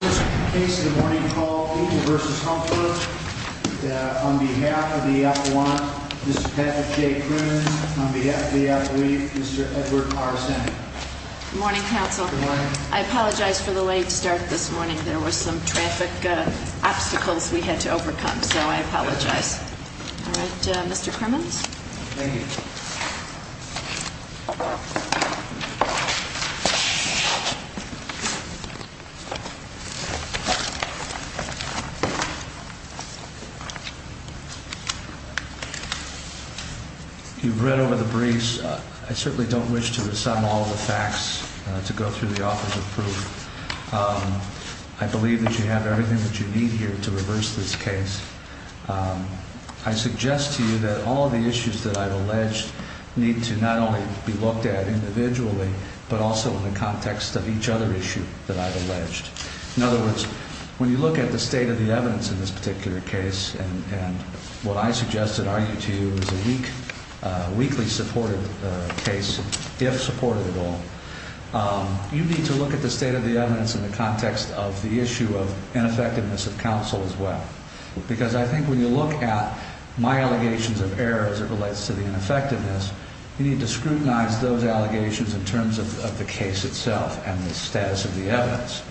On behalf of the F1, Mr. Patrick J. Kroon. On behalf of the F3, Mr. Edward R. Sennett. Good morning, counsel. I apologize for the late start this morning. There were some traffic obstacles we had to overcome, so I apologize. All right, Mr. Crimmins. Thank you. You've read over the briefs. I certainly don't wish to assign all the facts to go through the office of proof. I believe that you have everything that you need here to reverse this case. I suggest to you that all of the issues that I've alleged need to not only be looked at individually, but also in the context of each other issue that I've alleged. In other words, when you look at the state of the evidence in this particular case, and what I suggest and argue to you is a weak, weakly supported case, if supported at all, you need to look at the state of the evidence in the context of the issue of ineffectiveness of counsel as well. Because I think when you look at my allegations of error as it relates to the ineffectiveness, you need to scrutinize those allegations in terms of the case itself and the status of the evidence.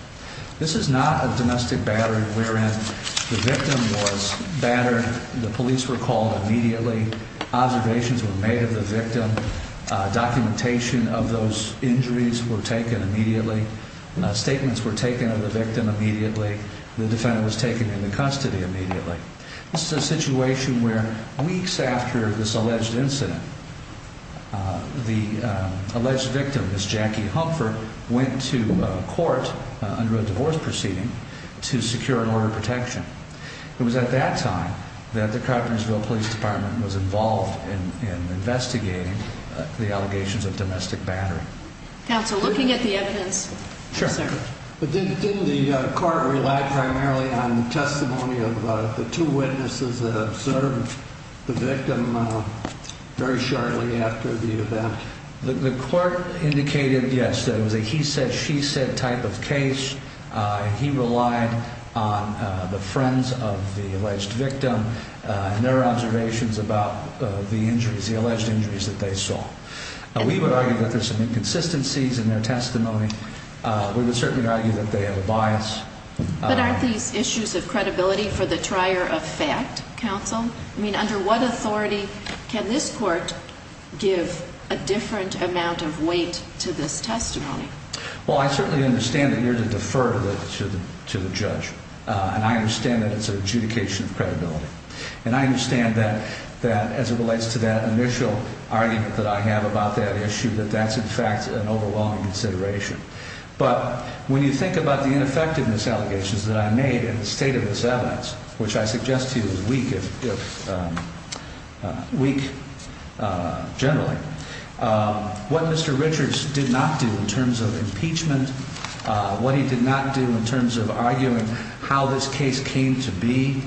This is not a domestic battery wherein the victim was battered. The police were called immediately. Observations were made of the victim. Documentation of those injuries were taken immediately. Statements were taken of the victim immediately. The defendant was taken into custody immediately. This is a situation where weeks after this alleged incident, the alleged victim, Miss Jackie Humphrey, went to court under a divorce proceeding to secure an order of protection. It was at that time that the Coppersville Police Department was involved in investigating the allegations of domestic battery. Counsel, looking at the evidence. Sure. Didn't the court rely primarily on testimony of the two witnesses that observed the victim very shortly after the event? The court indicated, yes, that it was a he said, she said type of case. He relied on the friends of the alleged victim and their observations about the injuries, the alleged injuries that they saw. We would argue that there's some inconsistencies in their testimony. We would certainly argue that they have a bias. But aren't these issues of credibility for the trier of fact? Counsel, I mean, under what authority can this court give a different amount of weight to this testimony? Well, I certainly understand that you're to defer to the judge. And I understand that it's an adjudication of credibility. And I understand that that as it relates to that initial argument that I have about that issue, that that's, in fact, an overwhelming consideration. But when you think about the ineffectiveness allegations that I made and the state of this evidence, which I suggest to you is weak. Generally, what Mr. Richards did not do in terms of impeachment, what he did not do in terms of arguing how this case came to be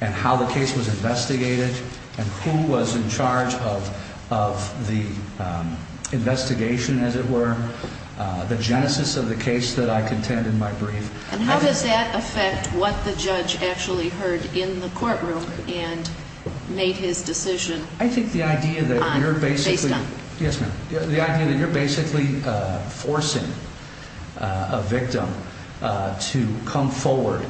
and how the case was investigated and who was in charge of the investigation, as it were, the genesis of the case that I contend in my brief. And how does that affect what the judge actually heard in the courtroom and made his decision based on? Yes, ma'am. The idea that you're basically forcing a victim to come forward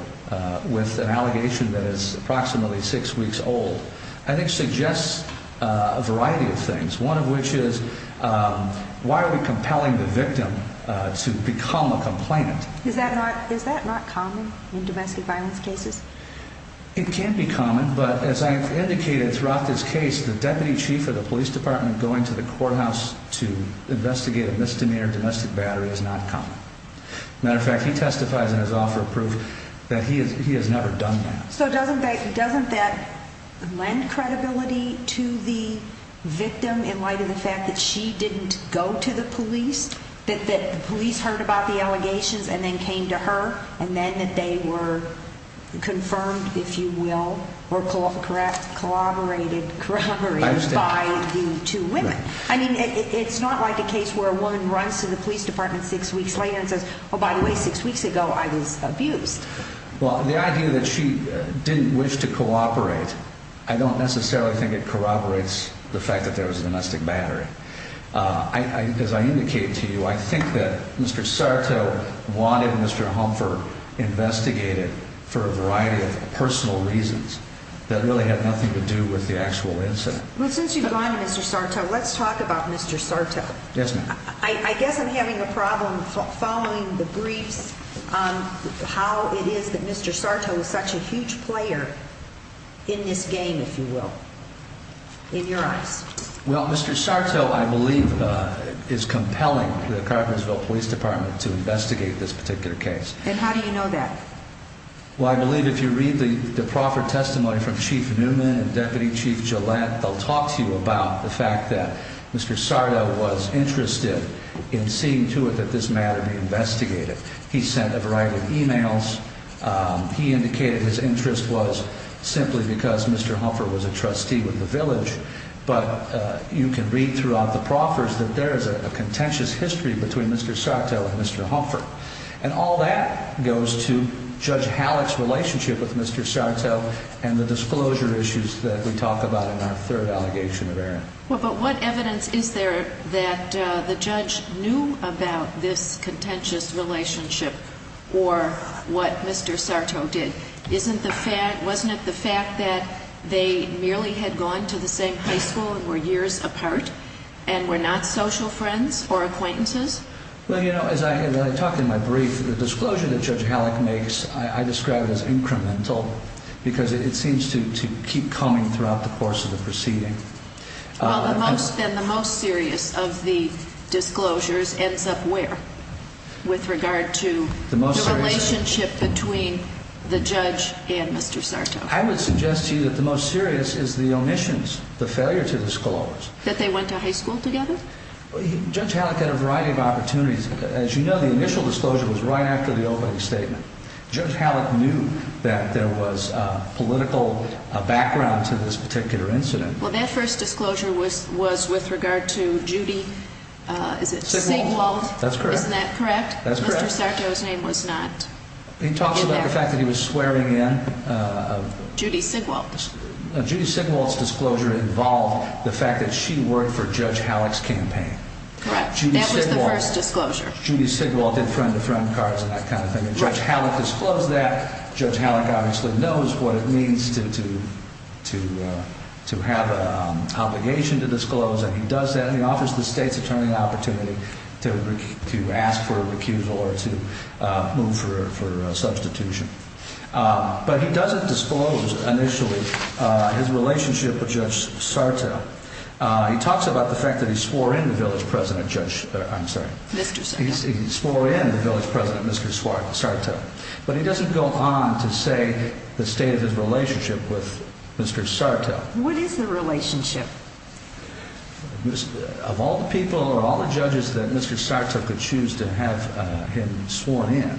with an allegation that is approximately six weeks old, I think, suggests a variety of things. One of which is why are we compelling the victim to become a complainant? Is that not common in domestic violence cases? It can be common. But as I have indicated throughout this case, the deputy chief of the police department going to the courthouse to investigate a misdemeanor domestic battery is not common. Matter of fact, he testifies in his offer of proof that he has never done that. So doesn't that doesn't that lend credibility to the victim in light of the fact that she didn't go to the police, that the police heard about the allegations and then came to her and then that they were confirmed, if you will, were caught. Correct. Collaborated, corroborated by the two women. I mean, it's not like a case where a woman runs to the police department six weeks later and says, oh, by the way, six weeks ago I was abused. Well, the idea that she didn't wish to cooperate, I don't necessarily think it corroborates the fact that there was a domestic battery. I, as I indicated to you, I think that Mr. Sarto wanted Mr. Humphrey investigated for a variety of personal reasons that really had nothing to do with the actual incident. Well, since you've gone to Mr. Sarto, let's talk about Mr. Sarto. Yes, ma'am. I guess I'm having a problem following the briefs on how it is that Mr. Sarto is such a huge player in this game, if you will. In your eyes. Well, Mr. Sarto, I believe, is compelling the Carpentersville Police Department to investigate this particular case. And how do you know that? Well, I believe if you read the proffered testimony from Chief Newman and Deputy Chief Gillette, they'll talk to you about the fact that Mr. Sarto was interested in seeing to it that this matter be investigated. He sent a variety of emails. He indicated his interest was simply because Mr. Humphrey was a trustee with the village. But you can read throughout the proffers that there is a contentious history between Mr. Sarto and Mr. Humphrey. And all that goes to Judge Halleck's relationship with Mr. Sarto and the disclosure issues that we talk about in our third allegation of error. But what evidence is there that the judge knew about this contentious relationship or what Mr. Sarto did? Wasn't it the fact that they merely had gone to the same high school and were years apart and were not social friends or acquaintances? Well, you know, as I talk in my brief, the disclosure that Judge Halleck makes, I describe it as incremental because it seems to keep coming throughout the course of the proceeding. Well, then the most serious of the disclosures ends up where with regard to the relationship between the judge and Mr. Sarto? I would suggest to you that the most serious is the omissions, the failure to disclose. That they went to high school together? Judge Halleck had a variety of opportunities. As you know, the initial disclosure was right after the opening statement. Judge Halleck knew that there was political background to this particular incident. Well, that first disclosure was with regard to Judy, is it Sigwald? That's correct. Isn't that correct? That's correct. Mr. Sarto's name was not in there. He talked about the fact that he was swearing in. Judy Sigwald. Judy Sigwald's disclosure involved the fact that she worked for Judge Halleck's campaign. Correct. That was the first disclosure. Judy Sigwald did friend-to-friend cards and that kind of thing. And Judge Halleck disclosed that. Judge Halleck obviously knows what it means to have an obligation to disclose. And he does that and he offers the state's attorney the opportunity to ask for a recusal or to move for a substitution. But he doesn't disclose initially his relationship with Judge Sarto. He talks about the fact that he swore in the village president, Judge, I'm sorry. Mr. Sarto. He swore in the village president, Mr. Sarto. But he doesn't go on to say the state of his relationship with Mr. Sarto. What is the relationship? Of all the people or all the judges that Mr. Sarto could choose to have him sworn in,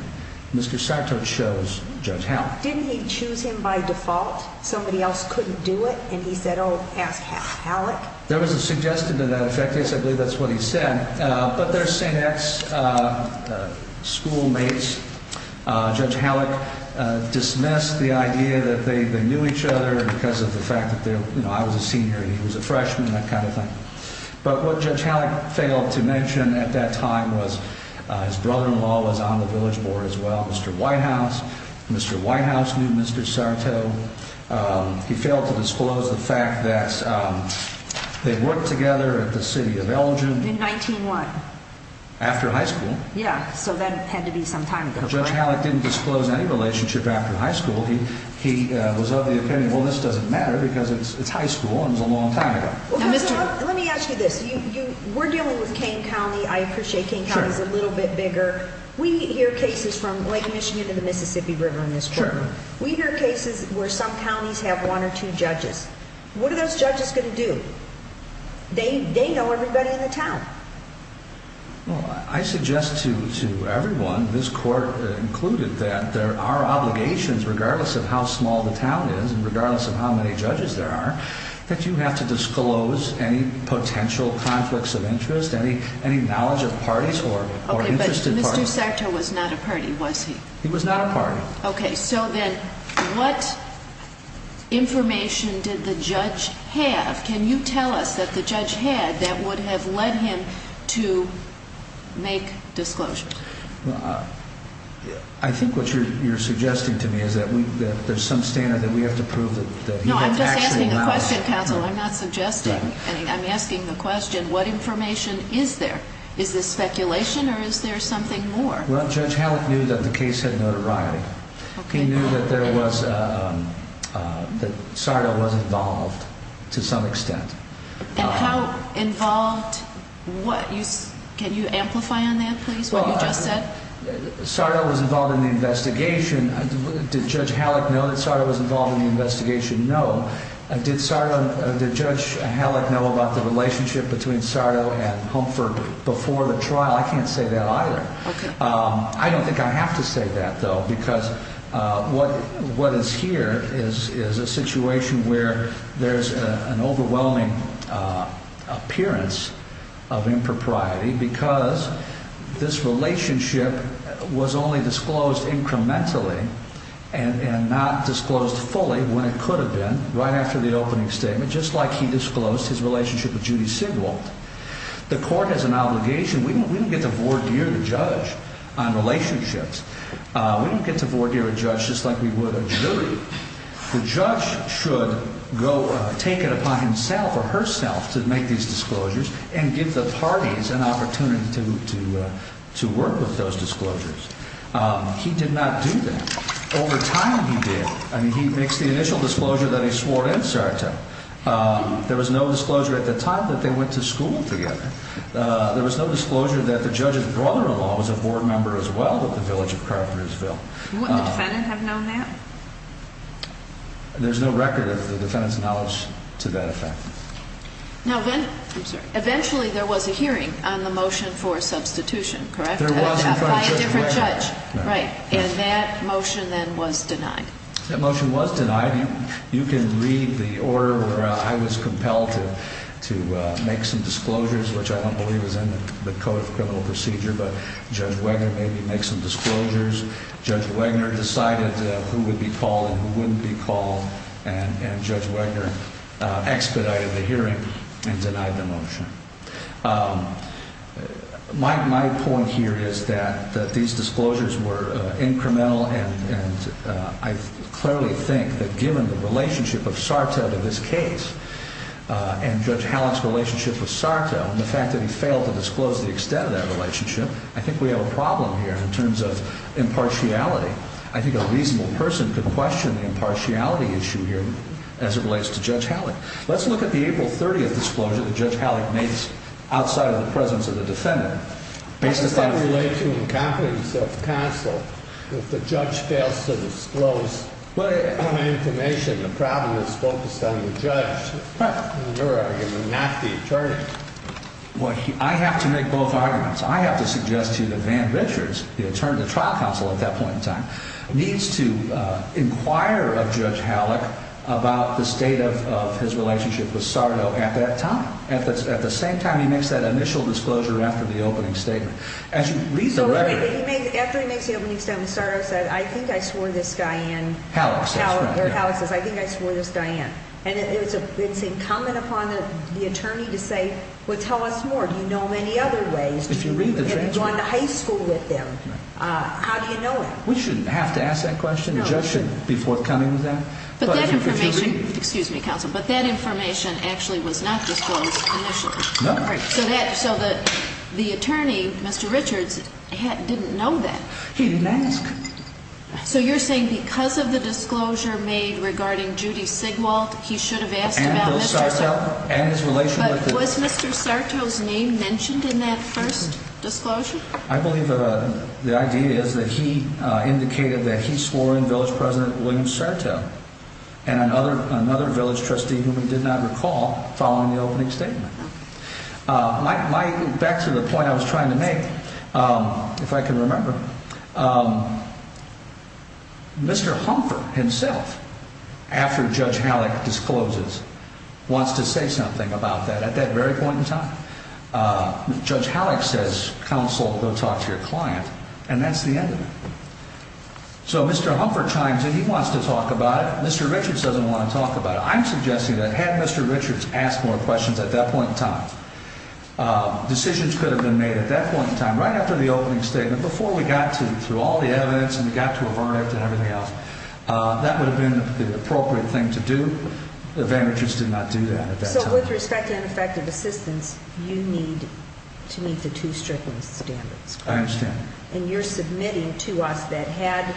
Mr. Sarto chose Judge Halleck. Didn't he choose him by default? Somebody else couldn't do it and he said, oh, ask Halleck. There was a suggestion to that effect. I believe that's what he said. But their same ex-schoolmates, Judge Halleck, dismissed the idea that they knew each other because of the fact that, you know, I was a senior and he was a freshman, that kind of thing. But what Judge Halleck failed to mention at that time was his brother-in-law was on the village board as well, Mr. Whitehouse. Mr. Whitehouse knew Mr. Sarto. He failed to disclose the fact that they worked together at the city of Elgin. In 1901. After high school. Yeah, so that had to be some time ago. But Judge Halleck didn't disclose any relationship after high school. He was of the opinion, well, this doesn't matter because it's high school and it was a long time ago. Let me ask you this. We're dealing with Kane County. I appreciate Kane County is a little bit bigger. We hear cases from Lake Michigan to the Mississippi River in this courtroom. We hear cases where some counties have one or two judges. What are those judges going to do? They know everybody in the town. Well, I suggest to everyone, this court included, that there are obligations, regardless of how small the town is and regardless of how many judges there are, that you have to disclose any potential conflicts of interest, any knowledge of parties or interested parties. Okay, but Mr. Sarto was not a party, was he? He was not a party. Okay, so then what information did the judge have? Can you tell us that the judge had that would have led him to make disclosures? Well, I think what you're suggesting to me is that there's some standard that we have to prove that he actually was. No, I'm just asking a question, counsel. I'm not suggesting. I'm asking the question, what information is there? Is this speculation or is there something more? He knew that Sarto was involved to some extent. And how involved? Can you amplify on that, please, what you just said? Sarto was involved in the investigation. Did Judge Halleck know that Sarto was involved in the investigation? No. Did Judge Halleck know about the relationship between Sarto and Humford before the trial? I can't say that either. Okay. I don't think I have to say that, though, because what is here is a situation where there's an overwhelming appearance of impropriety because this relationship was only disclosed incrementally and not disclosed fully when it could have been, right after the opening statement, just like he disclosed his relationship with Judy Sigwald. The court has an obligation. We don't get to voir dire the judge on relationships. We don't get to voir dire a judge just like we would a jury. The judge should go take it upon himself or herself to make these disclosures and give the parties an opportunity to work with those disclosures. He did not do that. Over time, he did. I mean, he makes the initial disclosure that he swore in Sarto. There was no disclosure at the time that they went to school together. There was no disclosure that the judge's brother-in-law was a board member as well with the Village of Carpentersville. Wouldn't the defendant have known that? There's no record of the defendant's knowledge to that effect. Now, eventually there was a hearing on the motion for substitution, correct? There was in front of Judge Ware. By a different judge, right. And that motion then was denied. That motion was denied. You can read the order where I was compelled to make some disclosures, which I don't believe is in the Code of Criminal Procedure, but Judge Wagner made me make some disclosures. Judge Wagner decided who would be called and who wouldn't be called, and Judge Wagner expedited the hearing and denied the motion. My point here is that these disclosures were incremental, and I clearly think that given the relationship of Sarto to this case and Judge Halleck's relationship with Sarto, and the fact that he failed to disclose the extent of that relationship, I think we have a problem here in terms of impartiality. I think a reasonable person could question the impartiality issue here as it relates to Judge Halleck. Let's look at the April 30th disclosure that Judge Halleck made outside of the presence of the defendant. How does that relate to incompetence of counsel? If the judge fails to disclose information, the problem is focused on the judge, in your argument, not the attorney. I have to make both arguments. I have to suggest to you that Van Richards, the trial counsel at that point in time, needs to inquire of Judge Halleck about the state of his relationship with Sarto at that time. At the same time, he makes that initial disclosure after the opening statement. After he makes the opening statement, Sarto says, I think I swore this guy in, or Halleck says, I think I swore this guy in. And it's incumbent upon the attorney to say, well, tell us more. Do you know of any other ways? Have you gone to high school with them? How do you know it? We shouldn't have to ask that question. The judge shouldn't be forthcoming with that. But that information, excuse me, counsel, but that information actually was not disclosed initially. No. So the attorney, Mr. Richards, didn't know that. He didn't ask. So you're saying because of the disclosure made regarding Judy Sigwald, he should have asked about Mr. Sarto? And his relationship. But was Mr. Sarto's name mentioned in that first disclosure? I believe the idea is that he indicated that he swore in Village President William Sarto and another village trustee whom he did not recall following the opening statement. Back to the point I was trying to make, if I can remember, Mr. Humphrey himself, after Judge Halleck discloses, wants to say something about that. At that very point in time, Judge Halleck says, counsel, go talk to your client. And that's the end of it. So Mr. Humphrey chimes in. He wants to talk about it. Mr. Richards doesn't want to talk about it. I'm suggesting that had Mr. Richards asked more questions at that point in time, decisions could have been made at that point in time, right after the opening statement, before we got to, through all the evidence and we got to a verdict and everything else, that would have been the appropriate thing to do. Van Richards did not do that at that time. So with respect to ineffective assistance, you need to meet the two Strickland standards. I understand. And you're submitting to us that had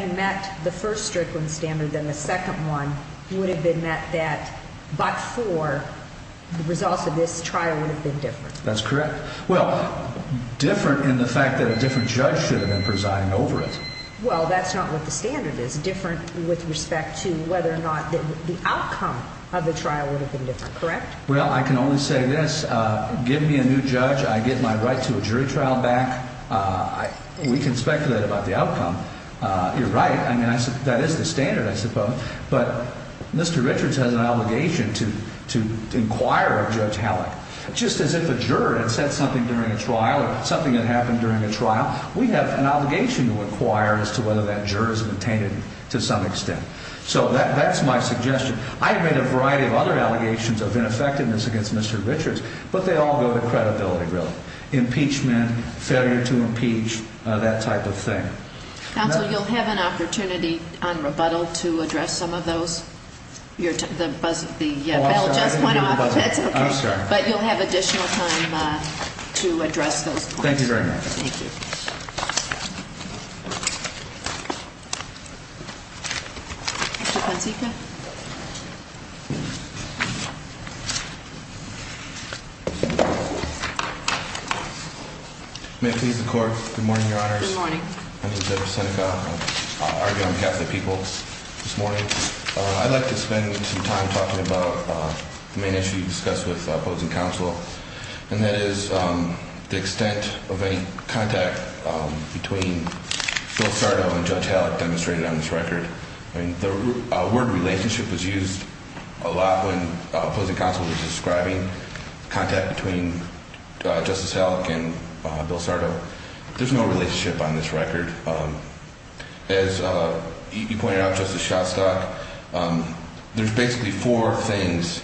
you met the first Strickland standard, then the second one would have been met that but for the results of this trial would have been different. That's correct. Well, different in the fact that a different judge should have been presiding over it. Well, that's not what the standard is. with respect to whether or not the outcome of the trial would have been different, correct? Well, I can only say this. Give me a new judge. I get my right to a jury trial back. We can speculate about the outcome. You're right. I mean, that is the standard, I suppose. But Mr. Richards has an obligation to inquire of Judge Halleck. Just as if a juror had said something during a trial or something had happened during a trial, we have an obligation to inquire as to whether that juror has obtained it to some extent. So that's my suggestion. I have made a variety of other allegations of ineffectiveness against Mr. Richards, but they all go to credibility, really. Impeachment, failure to impeach, that type of thing. Counsel, you'll have an opportunity on rebuttal to address some of those. The bell just went off. I'm sorry. But you'll have additional time to address those points. Thank you very much. Thank you. Mr. Katsika. May it please the Court. Good morning, Your Honors. Good morning. My name is Edward Katsika. I'll argue on behalf of the people this morning. I'd like to spend some time talking about the main issue you discussed with opposing counsel, and that is the extent of any contact between Bill Sardo and Judge Halleck demonstrated on this record. The word relationship was used a lot when opposing counsel was describing contact between Justice Halleck and Bill Sardo. There's no relationship on this record. As you pointed out, Justice Shostak, there's basically four things,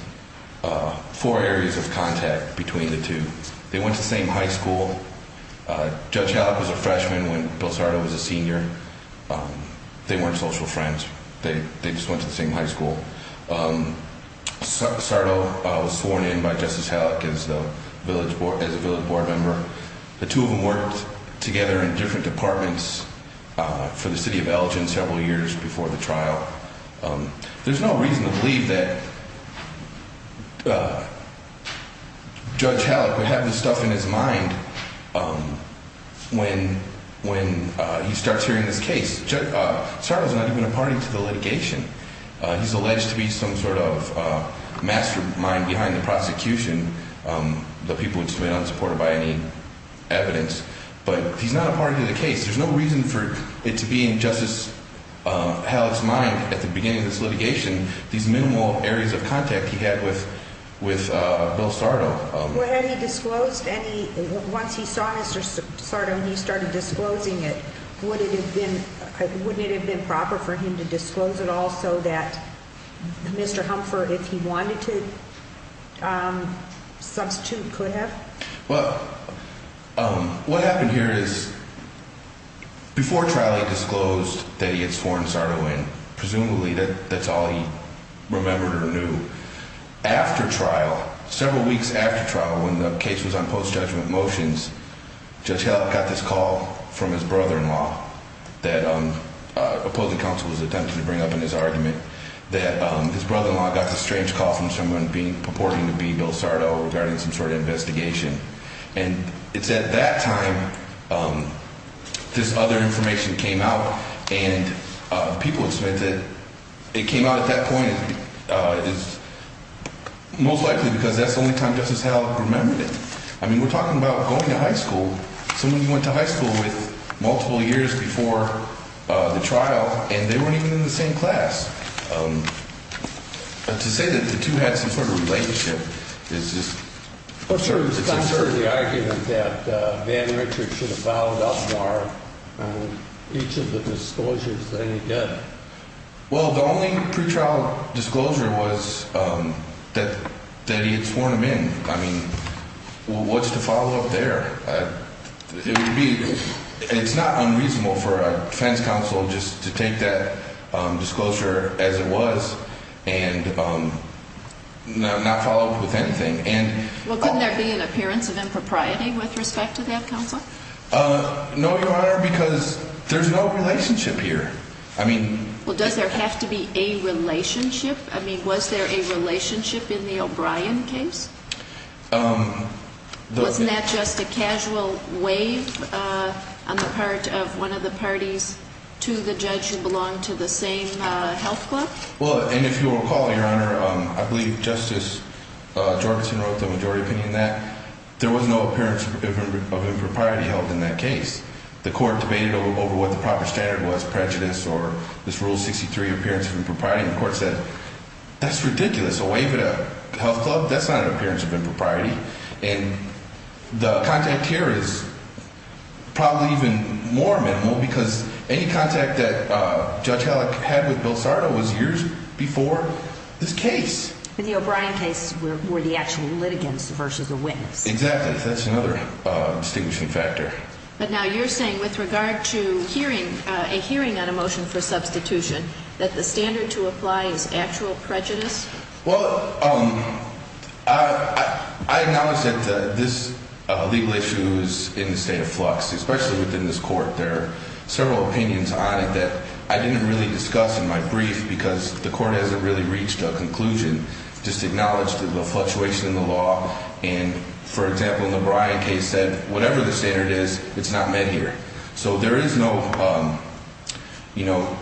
four areas of contact between the two. They went to the same high school. Judge Halleck was a freshman when Bill Sardo was a senior. They weren't social friends. They just went to the same high school. Sardo was sworn in by Justice Halleck as a village board member. The two of them worked together in different departments for the city of Elgin several years before the trial. There's no reason to believe that Judge Halleck would have this stuff in his mind when he starts hearing this case. Sardo's not even a party to the litigation. He's alleged to be some sort of mastermind behind the prosecution, the people which have been unsupported by any evidence. But he's not a party to the case. There's no reason for it to be in Justice Halleck's mind at the beginning of this litigation, these minimal areas of contact he had with Bill Sardo. Had he disclosed any, once he saw Mr. Sardo and he started disclosing it, wouldn't it have been proper for him to disclose it all so that Mr. Humphrey, if he wanted to, could have? Well, what happened here is before trial he disclosed that he had sworn Sardo in. Presumably that's all he remembered or knew. After trial, several weeks after trial when the case was on post-judgment motions, Judge Halleck got this call from his brother-in-law that opposing counsel was attempting to bring up in his argument, that his brother-in-law got this strange call from someone purporting to be Bill Sardo regarding some sort of investigation. And it's at that time this other information came out, and people expect that it came out at that point most likely because that's the only time Justice Halleck remembered it. I mean, we're talking about going to high school, someone you went to high school with multiple years before the trial, and they weren't even in the same class. To say that the two had some sort of relationship is just uncertain. But there was some sort of argument that Van Richards should have followed up more on each of the disclosures than he did. Well, the only pretrial disclosure was that he had sworn him in. I mean, what's the follow-up there? It's not unreasonable for a defense counsel just to take that disclosure as it was and not follow up with anything. Well, couldn't there be an appearance of impropriety with respect to that counsel? No, Your Honor, because there's no relationship here. Well, does there have to be a relationship? I mean, was there a relationship in the O'Brien case? Wasn't that just a casual wave on the part of one of the parties to the judge who belonged to the same health club? Well, and if you'll recall, Your Honor, I believe Justice Jorgenson wrote the majority opinion in that. There was no appearance of impropriety held in that case. The court debated over what the proper standard was, prejudice or this Rule 63 appearance of impropriety, and the court said, That's ridiculous. A wave at a health club? That's not an appearance of impropriety. And the contact here is probably even more minimal because any contact that Judge Halleck had with Bill Sardo was years before this case. In the O'Brien case were the actual litigants versus the witness. Exactly. That's another distinguishing factor. But now you're saying with regard to a hearing on a motion for substitution, that the standard to apply is actual prejudice? Well, I acknowledge that this legal issue is in the state of flux, especially within this court. There are several opinions on it that I didn't really discuss in my brief because the court hasn't really reached a conclusion. Just acknowledge the fluctuation in the law. And, for example, in the O'Brien case said whatever the standard is, it's not met here. So there is no, you know,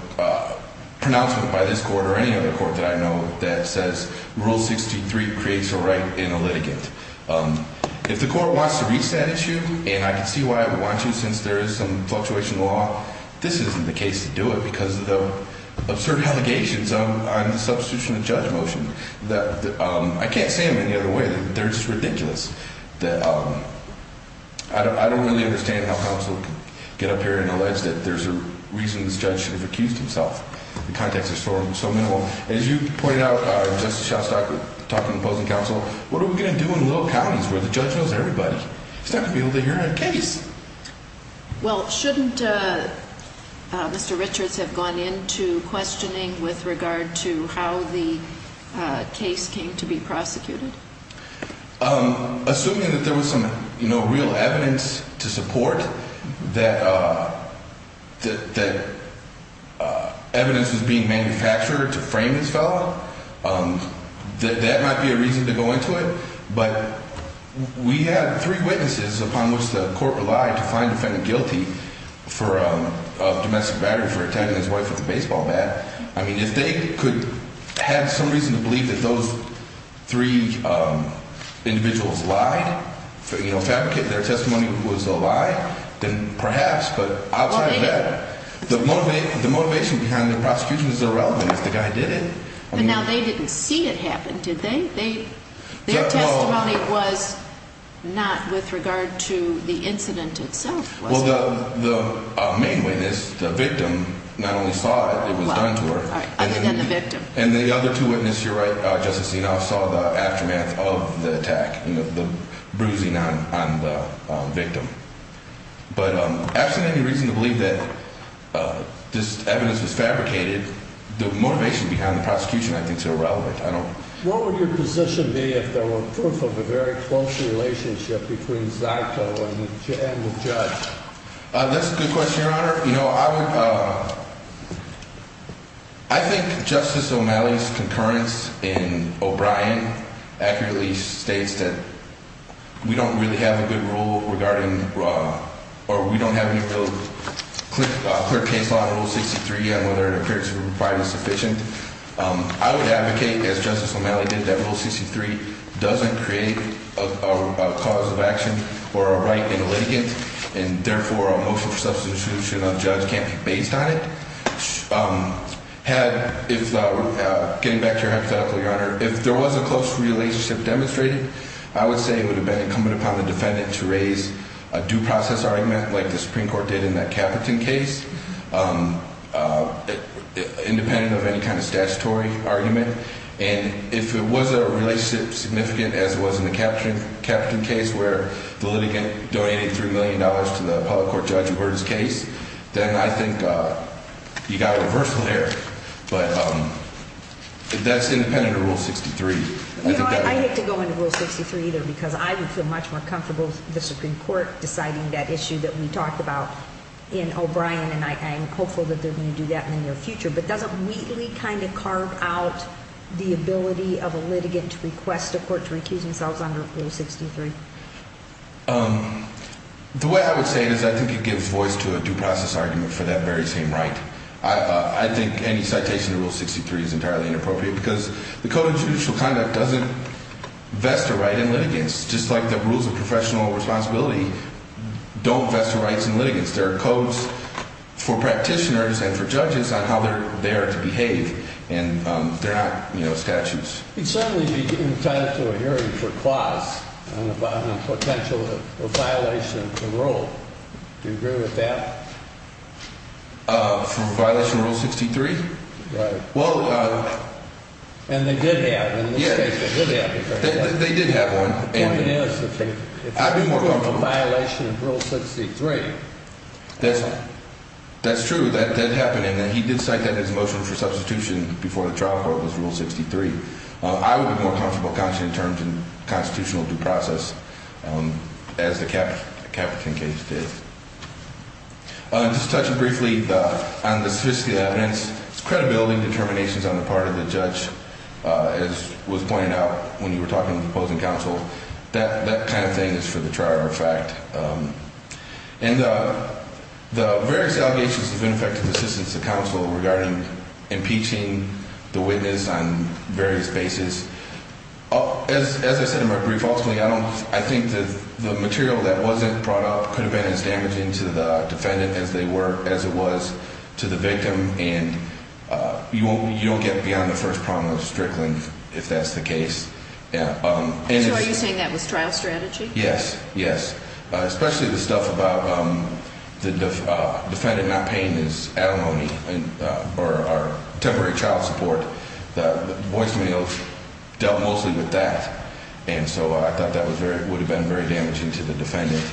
pronouncement by this court or any other court that I know that says Rule 63 creates a right in a litigant. If the court wants to reach that issue, and I can see why it would want to since there is some fluctuation in the law, this isn't the case to do it because of the absurd allegations on the substitution of the judge motion. I can't say them any other way. They're just ridiculous. I don't really understand how counsel can get up here and allege that there's a reason this judge should have accused himself. The context is so minimal. As you pointed out, Justice Shostack, talking to opposing counsel, what are we going to do in little counties where the judge knows everybody? He's not going to be able to hear a case. Well, shouldn't Mr. Richards have gone into questioning with regard to how the case came to be prosecuted? Assuming that there was some, you know, real evidence to support that evidence was being manufactured to frame this fellow, that might be a reason to go into it. But we have three witnesses upon which the court relied to find the defendant guilty of domestic battery for attacking his wife with a baseball bat. I mean, if they could have some reason to believe that those three individuals lied, you know, fabricated their testimony was a lie, then perhaps. But outside of that, the motivation behind the prosecution is irrelevant if the guy did it. But now they didn't see it happen, did they? Their testimony was not with regard to the incident itself. Well, the main witness, the victim, not only saw it, it was done to her. Other than the victim. And the other two witnesses, you're right, Justice Senoff, saw the aftermath of the attack, the bruising on the victim. But absolutely reason to believe that this evidence was fabricated. The motivation behind the prosecution, I think, is irrelevant. What would your position be if there were proof of a very close relationship between Zaito and the judge? Your Honor, you know, I think Justice O'Malley's concurrence in O'Brien accurately states that we don't really have a good rule regarding or we don't have any real clear case law on Rule 63 and whether it appears to be provided sufficient. I would advocate, as Justice O'Malley did, that Rule 63 doesn't create a cause of action or a right in the litigant. And therefore, a motion for substitution of judge can't be based on it. Had, getting back to your hypothetical, Your Honor, if there was a close relationship demonstrated, I would say it would have been incumbent upon the defendant to raise a due process argument like the Supreme Court did in that Caperton case. Independent of any kind of statutory argument. And if it was a relationship significant as it was in the Caperton case where the litigant donated $3 million to the public court judge who heard his case, then I think you got a reversal there. But that's independent of Rule 63. You know, I hate to go into Rule 63 either because I would feel much more comfortable with the Supreme Court deciding that issue that we talked about in O'Brien. And I am hopeful that they're going to do that in the near future. But does it weakly kind of carve out the ability of a litigant to request a court to recuse themselves under Rule 63? The way I would say it is I think it gives voice to a due process argument for that very same right. I think any citation to Rule 63 is entirely inappropriate because the Code of Judicial Conduct doesn't vest a right in litigants, just like the rules of professional responsibility don't vest a right in litigants. There are codes for practitioners and for judges on how they're there to behave, and they're not, you know, statutes. It certainly would be entitled to a hearing for clause on the potential violation of the rule. Do you agree with that? For violation of Rule 63? Right. Well. And they did have one in this case. Yes. They did have one. The point is that if it's a court of violation of Rule 63, that's fine. That's true. That did happen, and he did cite that in his motion for substitution before the trial court was Rule 63. I would be more comfortable counting in terms of constitutional due process as the Caperton case did. Just touching briefly on the sophisticated evidence, it's credibility and determinations on the part of the judge, as was pointed out when you were talking to the opposing counsel. That kind of thing is for the trier of fact. And the various allegations of ineffective assistance to counsel regarding impeaching the witness on various bases. As I said in my brief, ultimately, I think the material that wasn't brought up could have been as damaging to the defendant as it was to the victim, and you don't get beyond the first problem of strickling if that's the case. So are you saying that was trial strategy? Yes. Yes, especially the stuff about the defendant not paying his alimony or temporary child support. The voicemail dealt mostly with that, and so I thought that would have been very damaging to the defendant.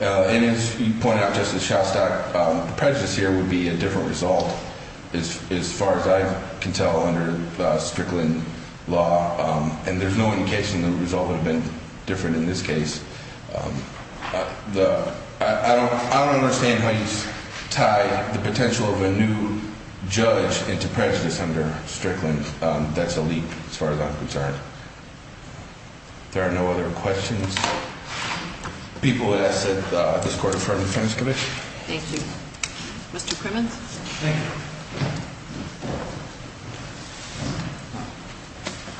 And as you pointed out, Justice Shostak, the prejudice here would be a different result as far as I can tell under strickling law, and there's no indication the result would have been different in this case. I don't understand how you tie the potential of a new judge into prejudice under strickling. That's a leap as far as I'm concerned. There are no other questions. People would ask that this court defer to the defense committee. Thank you. Mr. Crimmins? Thank you.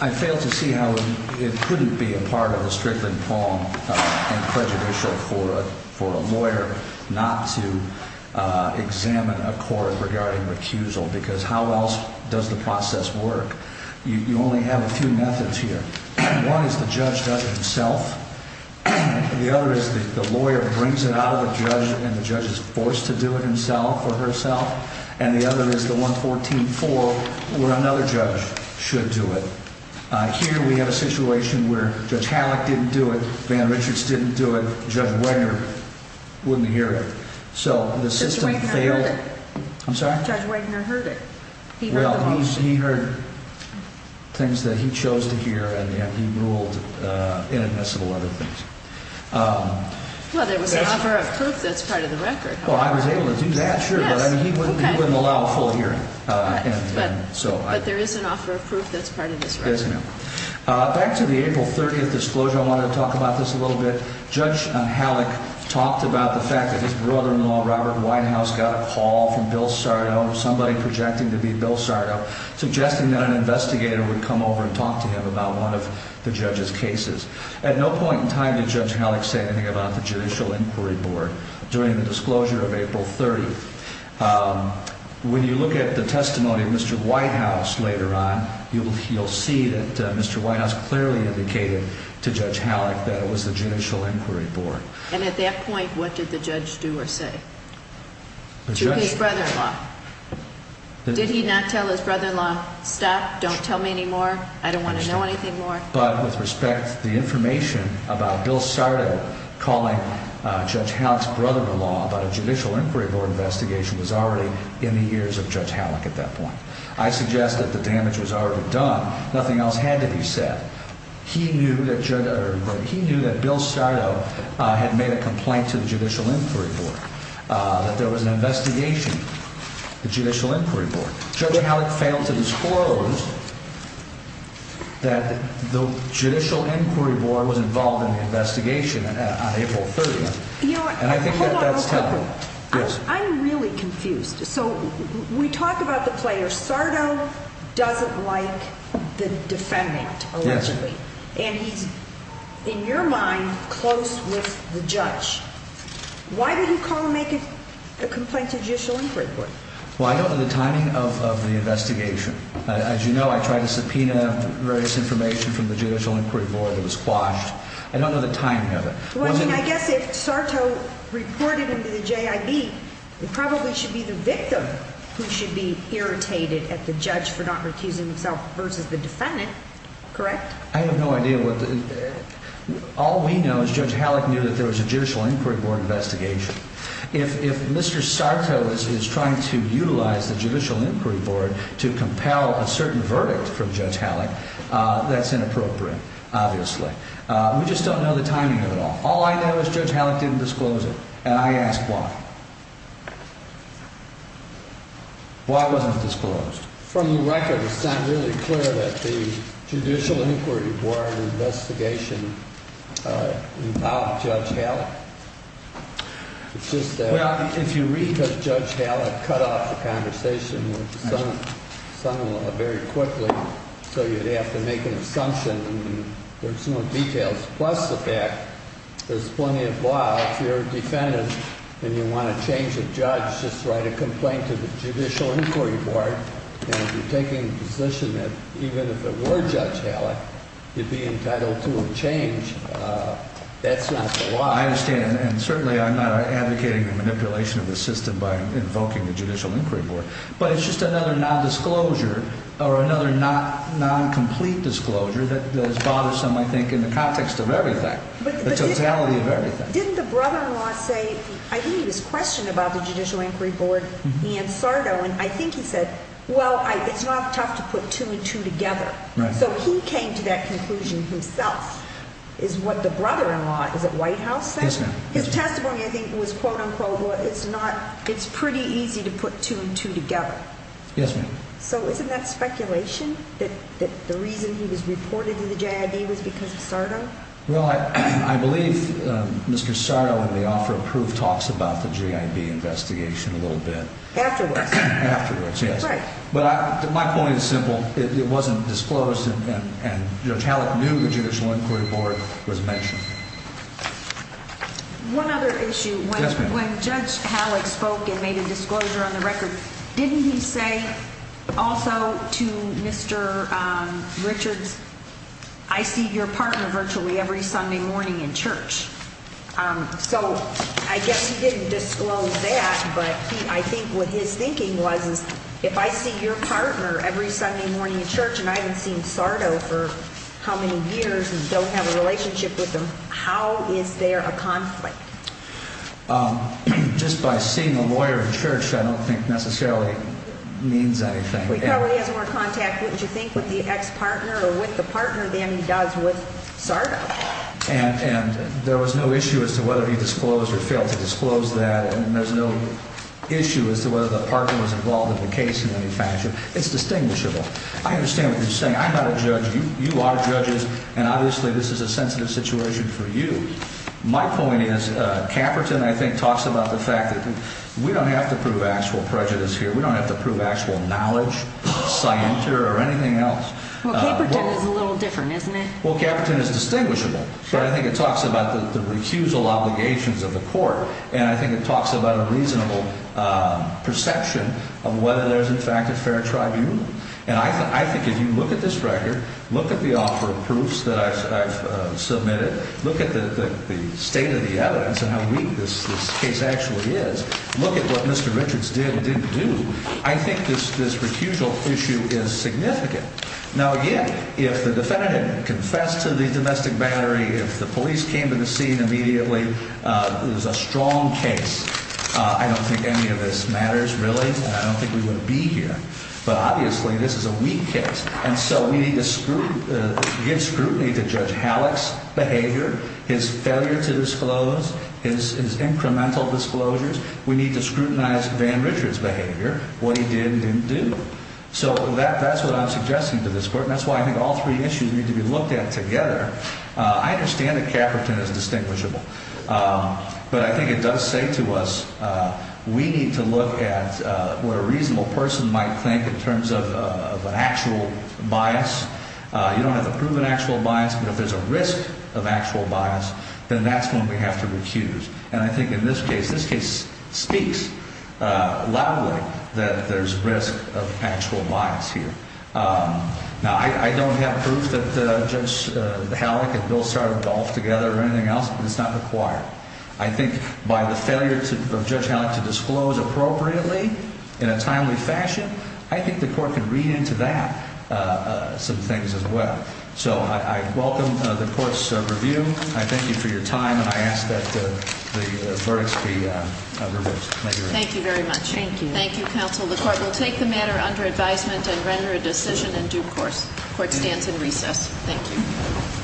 I failed to see how it couldn't be a part of the strickling palm and prejudicial court for a lawyer not to examine a court regarding recusal because how else does the process work? You only have a few methods here. One is the judge does it himself. The other is the lawyer brings it out of the judge, and the judge is forced to do it himself or herself. And the other is the 114-4 where another judge should do it. Here we have a situation where Judge Halleck didn't do it, Van Richards didn't do it, Judge Wagner wouldn't hear it. Judge Wagner heard it. I'm sorry? Judge Wagner heard it. Well, he heard things that he chose to hear, and he ruled inadmissible other things. Well, there was an offer of proof that's part of the record. Well, I was able to do that, sure, but he wouldn't allow a full hearing. But there is an offer of proof that's part of this record. Yes, ma'am. Back to the April 30th disclosure, I wanted to talk about this a little bit. Judge Halleck talked about the fact that his brother-in-law, Robert Whitehouse, got a call from Bill Sardo, somebody projected to be Bill Sardo, suggesting that an investigator would come over and talk to him about one of the judge's cases. At no point in time did Judge Halleck say anything about the Judicial Inquiry Board during the disclosure of April 30th. When you look at the testimony of Mr. Whitehouse later on, you'll see that Mr. Whitehouse clearly indicated to Judge Halleck that it was the Judicial Inquiry Board. And at that point, what did the judge do or say to his brother-in-law? Did he not tell his brother-in-law, stop, don't tell me anymore, I don't want to know anything more? But with respect, the information about Bill Sardo calling Judge Halleck's brother-in-law about a Judicial Inquiry Board investigation was already in the ears of Judge Halleck at that point. I suggest that the damage was already done. Nothing else had to be said. He knew that Bill Sardo had made a complaint to the Judicial Inquiry Board, that there was an investigation, the Judicial Inquiry Board. Judge Halleck failed to disclose that the Judicial Inquiry Board was involved in the investigation on April 30th. Hold on real quick. Yes. I'm really confused. So we talk about the player. Sardo doesn't like the defendant, allegedly. Yes. And he's, in your mind, close with the judge. Why did he call and make a complaint to the Judicial Inquiry Board? Well, I don't know the timing of the investigation. As you know, I tried to subpoena various information from the Judicial Inquiry Board that was quashed. I don't know the timing of it. Well, I guess if Sardo reported him to the JIB, it probably should be the victim who should be irritated at the judge for not recusing himself versus the defendant. Correct? I have no idea. All we know is Judge Halleck knew that there was a Judicial Inquiry Board investigation. If Mr. Sardo is trying to utilize the Judicial Inquiry Board to compel a certain verdict from Judge Halleck, that's inappropriate, obviously. We just don't know the timing of it all. All I know is Judge Halleck didn't disclose it, and I ask why. Why wasn't it disclosed? From the record, it's not really clear that the Judicial Inquiry Board investigation involved Judge Halleck. It's just that Judge Halleck cut off the conversation with the son-in-law very quickly, so you'd have to make an assumption. There's no details. Plus the fact there's plenty of law. If you're a defendant and you want to change a judge, just write a complaint to the Judicial Inquiry Board. And if you're taking the position that even if it were Judge Halleck, you'd be entitled to a change, that's not the law. I understand, and certainly I'm not advocating the manipulation of the system by invoking the Judicial Inquiry Board. But it's just another non-disclosure, or another non-complete disclosure that is bothersome, I think, in the context of everything. The totality of everything. Didn't the brother-in-law say, I think he was questioned about the Judicial Inquiry Board, Ian Sardo, and I think he said, well, it's not tough to put two and two together. So he came to that conclusion himself, is what the brother-in-law, is it Whitehouse, said? His testimony, I think, was, quote-unquote, it's pretty easy to put two and two together. Yes, ma'am. So isn't that speculation, that the reason he was reported to the JIB was because of Sardo? Well, I believe Mr. Sardo in the offer of proof talks about the JIB investigation a little bit. Afterwards. Afterwards, yes. Right. But my point is simple. It wasn't disclosed, and Judge Halleck knew the Judicial Inquiry Board was mentioned. One other issue. Yes, ma'am. When Judge Halleck spoke and made a disclosure on the record, didn't he say also to Mr. Richards, I see your partner virtually every Sunday morning in church? So I guess he didn't disclose that, but I think what his thinking was is, if I see your partner every Sunday morning in church and I haven't seen Sardo for how many years and don't have a relationship with him, how is there a conflict? Just by seeing a lawyer in church, I don't think necessarily means anything. He probably has more contact, wouldn't you think, with the ex-partner or with the partner than he does with Sardo. And there was no issue as to whether he disclosed or failed to disclose that, and there's no issue as to whether the partner was involved in the case in any fashion. It's distinguishable. I understand what you're saying. I'm not a judge. You are judges, and obviously this is a sensitive situation for you. My point is, Caperton, I think, talks about the fact that we don't have to prove actual prejudice here. We don't have to prove actual knowledge, scienter, or anything else. Well, Caperton is a little different, isn't it? Well, Caperton is distinguishable, but I think it talks about the recusal obligations of the court, and I think it talks about a reasonable perception of whether there's, in fact, a fair tribunal. And I think if you look at this record, look at the offer of proofs that I've submitted, look at the state of the evidence and how weak this case actually is, look at what Mr. Richards did and didn't do, I think this recusal issue is significant. Now, again, if the defendant confessed to the domestic battery, if the police came to the scene immediately, it was a strong case. I don't think any of this matters, really, and I don't think we would be here, but obviously this is a weak case. And so we need to give scrutiny to Judge Halleck's behavior, his failure to disclose, his incremental disclosures. We need to scrutinize Van Richards' behavior, what he did and didn't do. So that's what I'm suggesting to this court, and that's why I think all three issues need to be looked at together. I understand that Caperton is distinguishable, but I think it does say to us we need to look at what a reasonable person might think in terms of an actual bias. You don't have to prove an actual bias, but if there's a risk of actual bias, then that's one we have to recuse. And I think in this case, this case speaks loudly that there's risk of actual bias here. Now, I don't have proof that Judge Halleck and Bill Starr golfed together or anything else, but it's not required. I think by the failure of Judge Halleck to disclose appropriately in a timely fashion, I think the court can read into that some things as well. So I welcome the court's review. I thank you for your time, and I ask that the verdicts be reversed. Thank you very much. Thank you. Thank you, counsel. The court will take the matter under advisement and render a decision in due course. Court stands in recess. Thank you.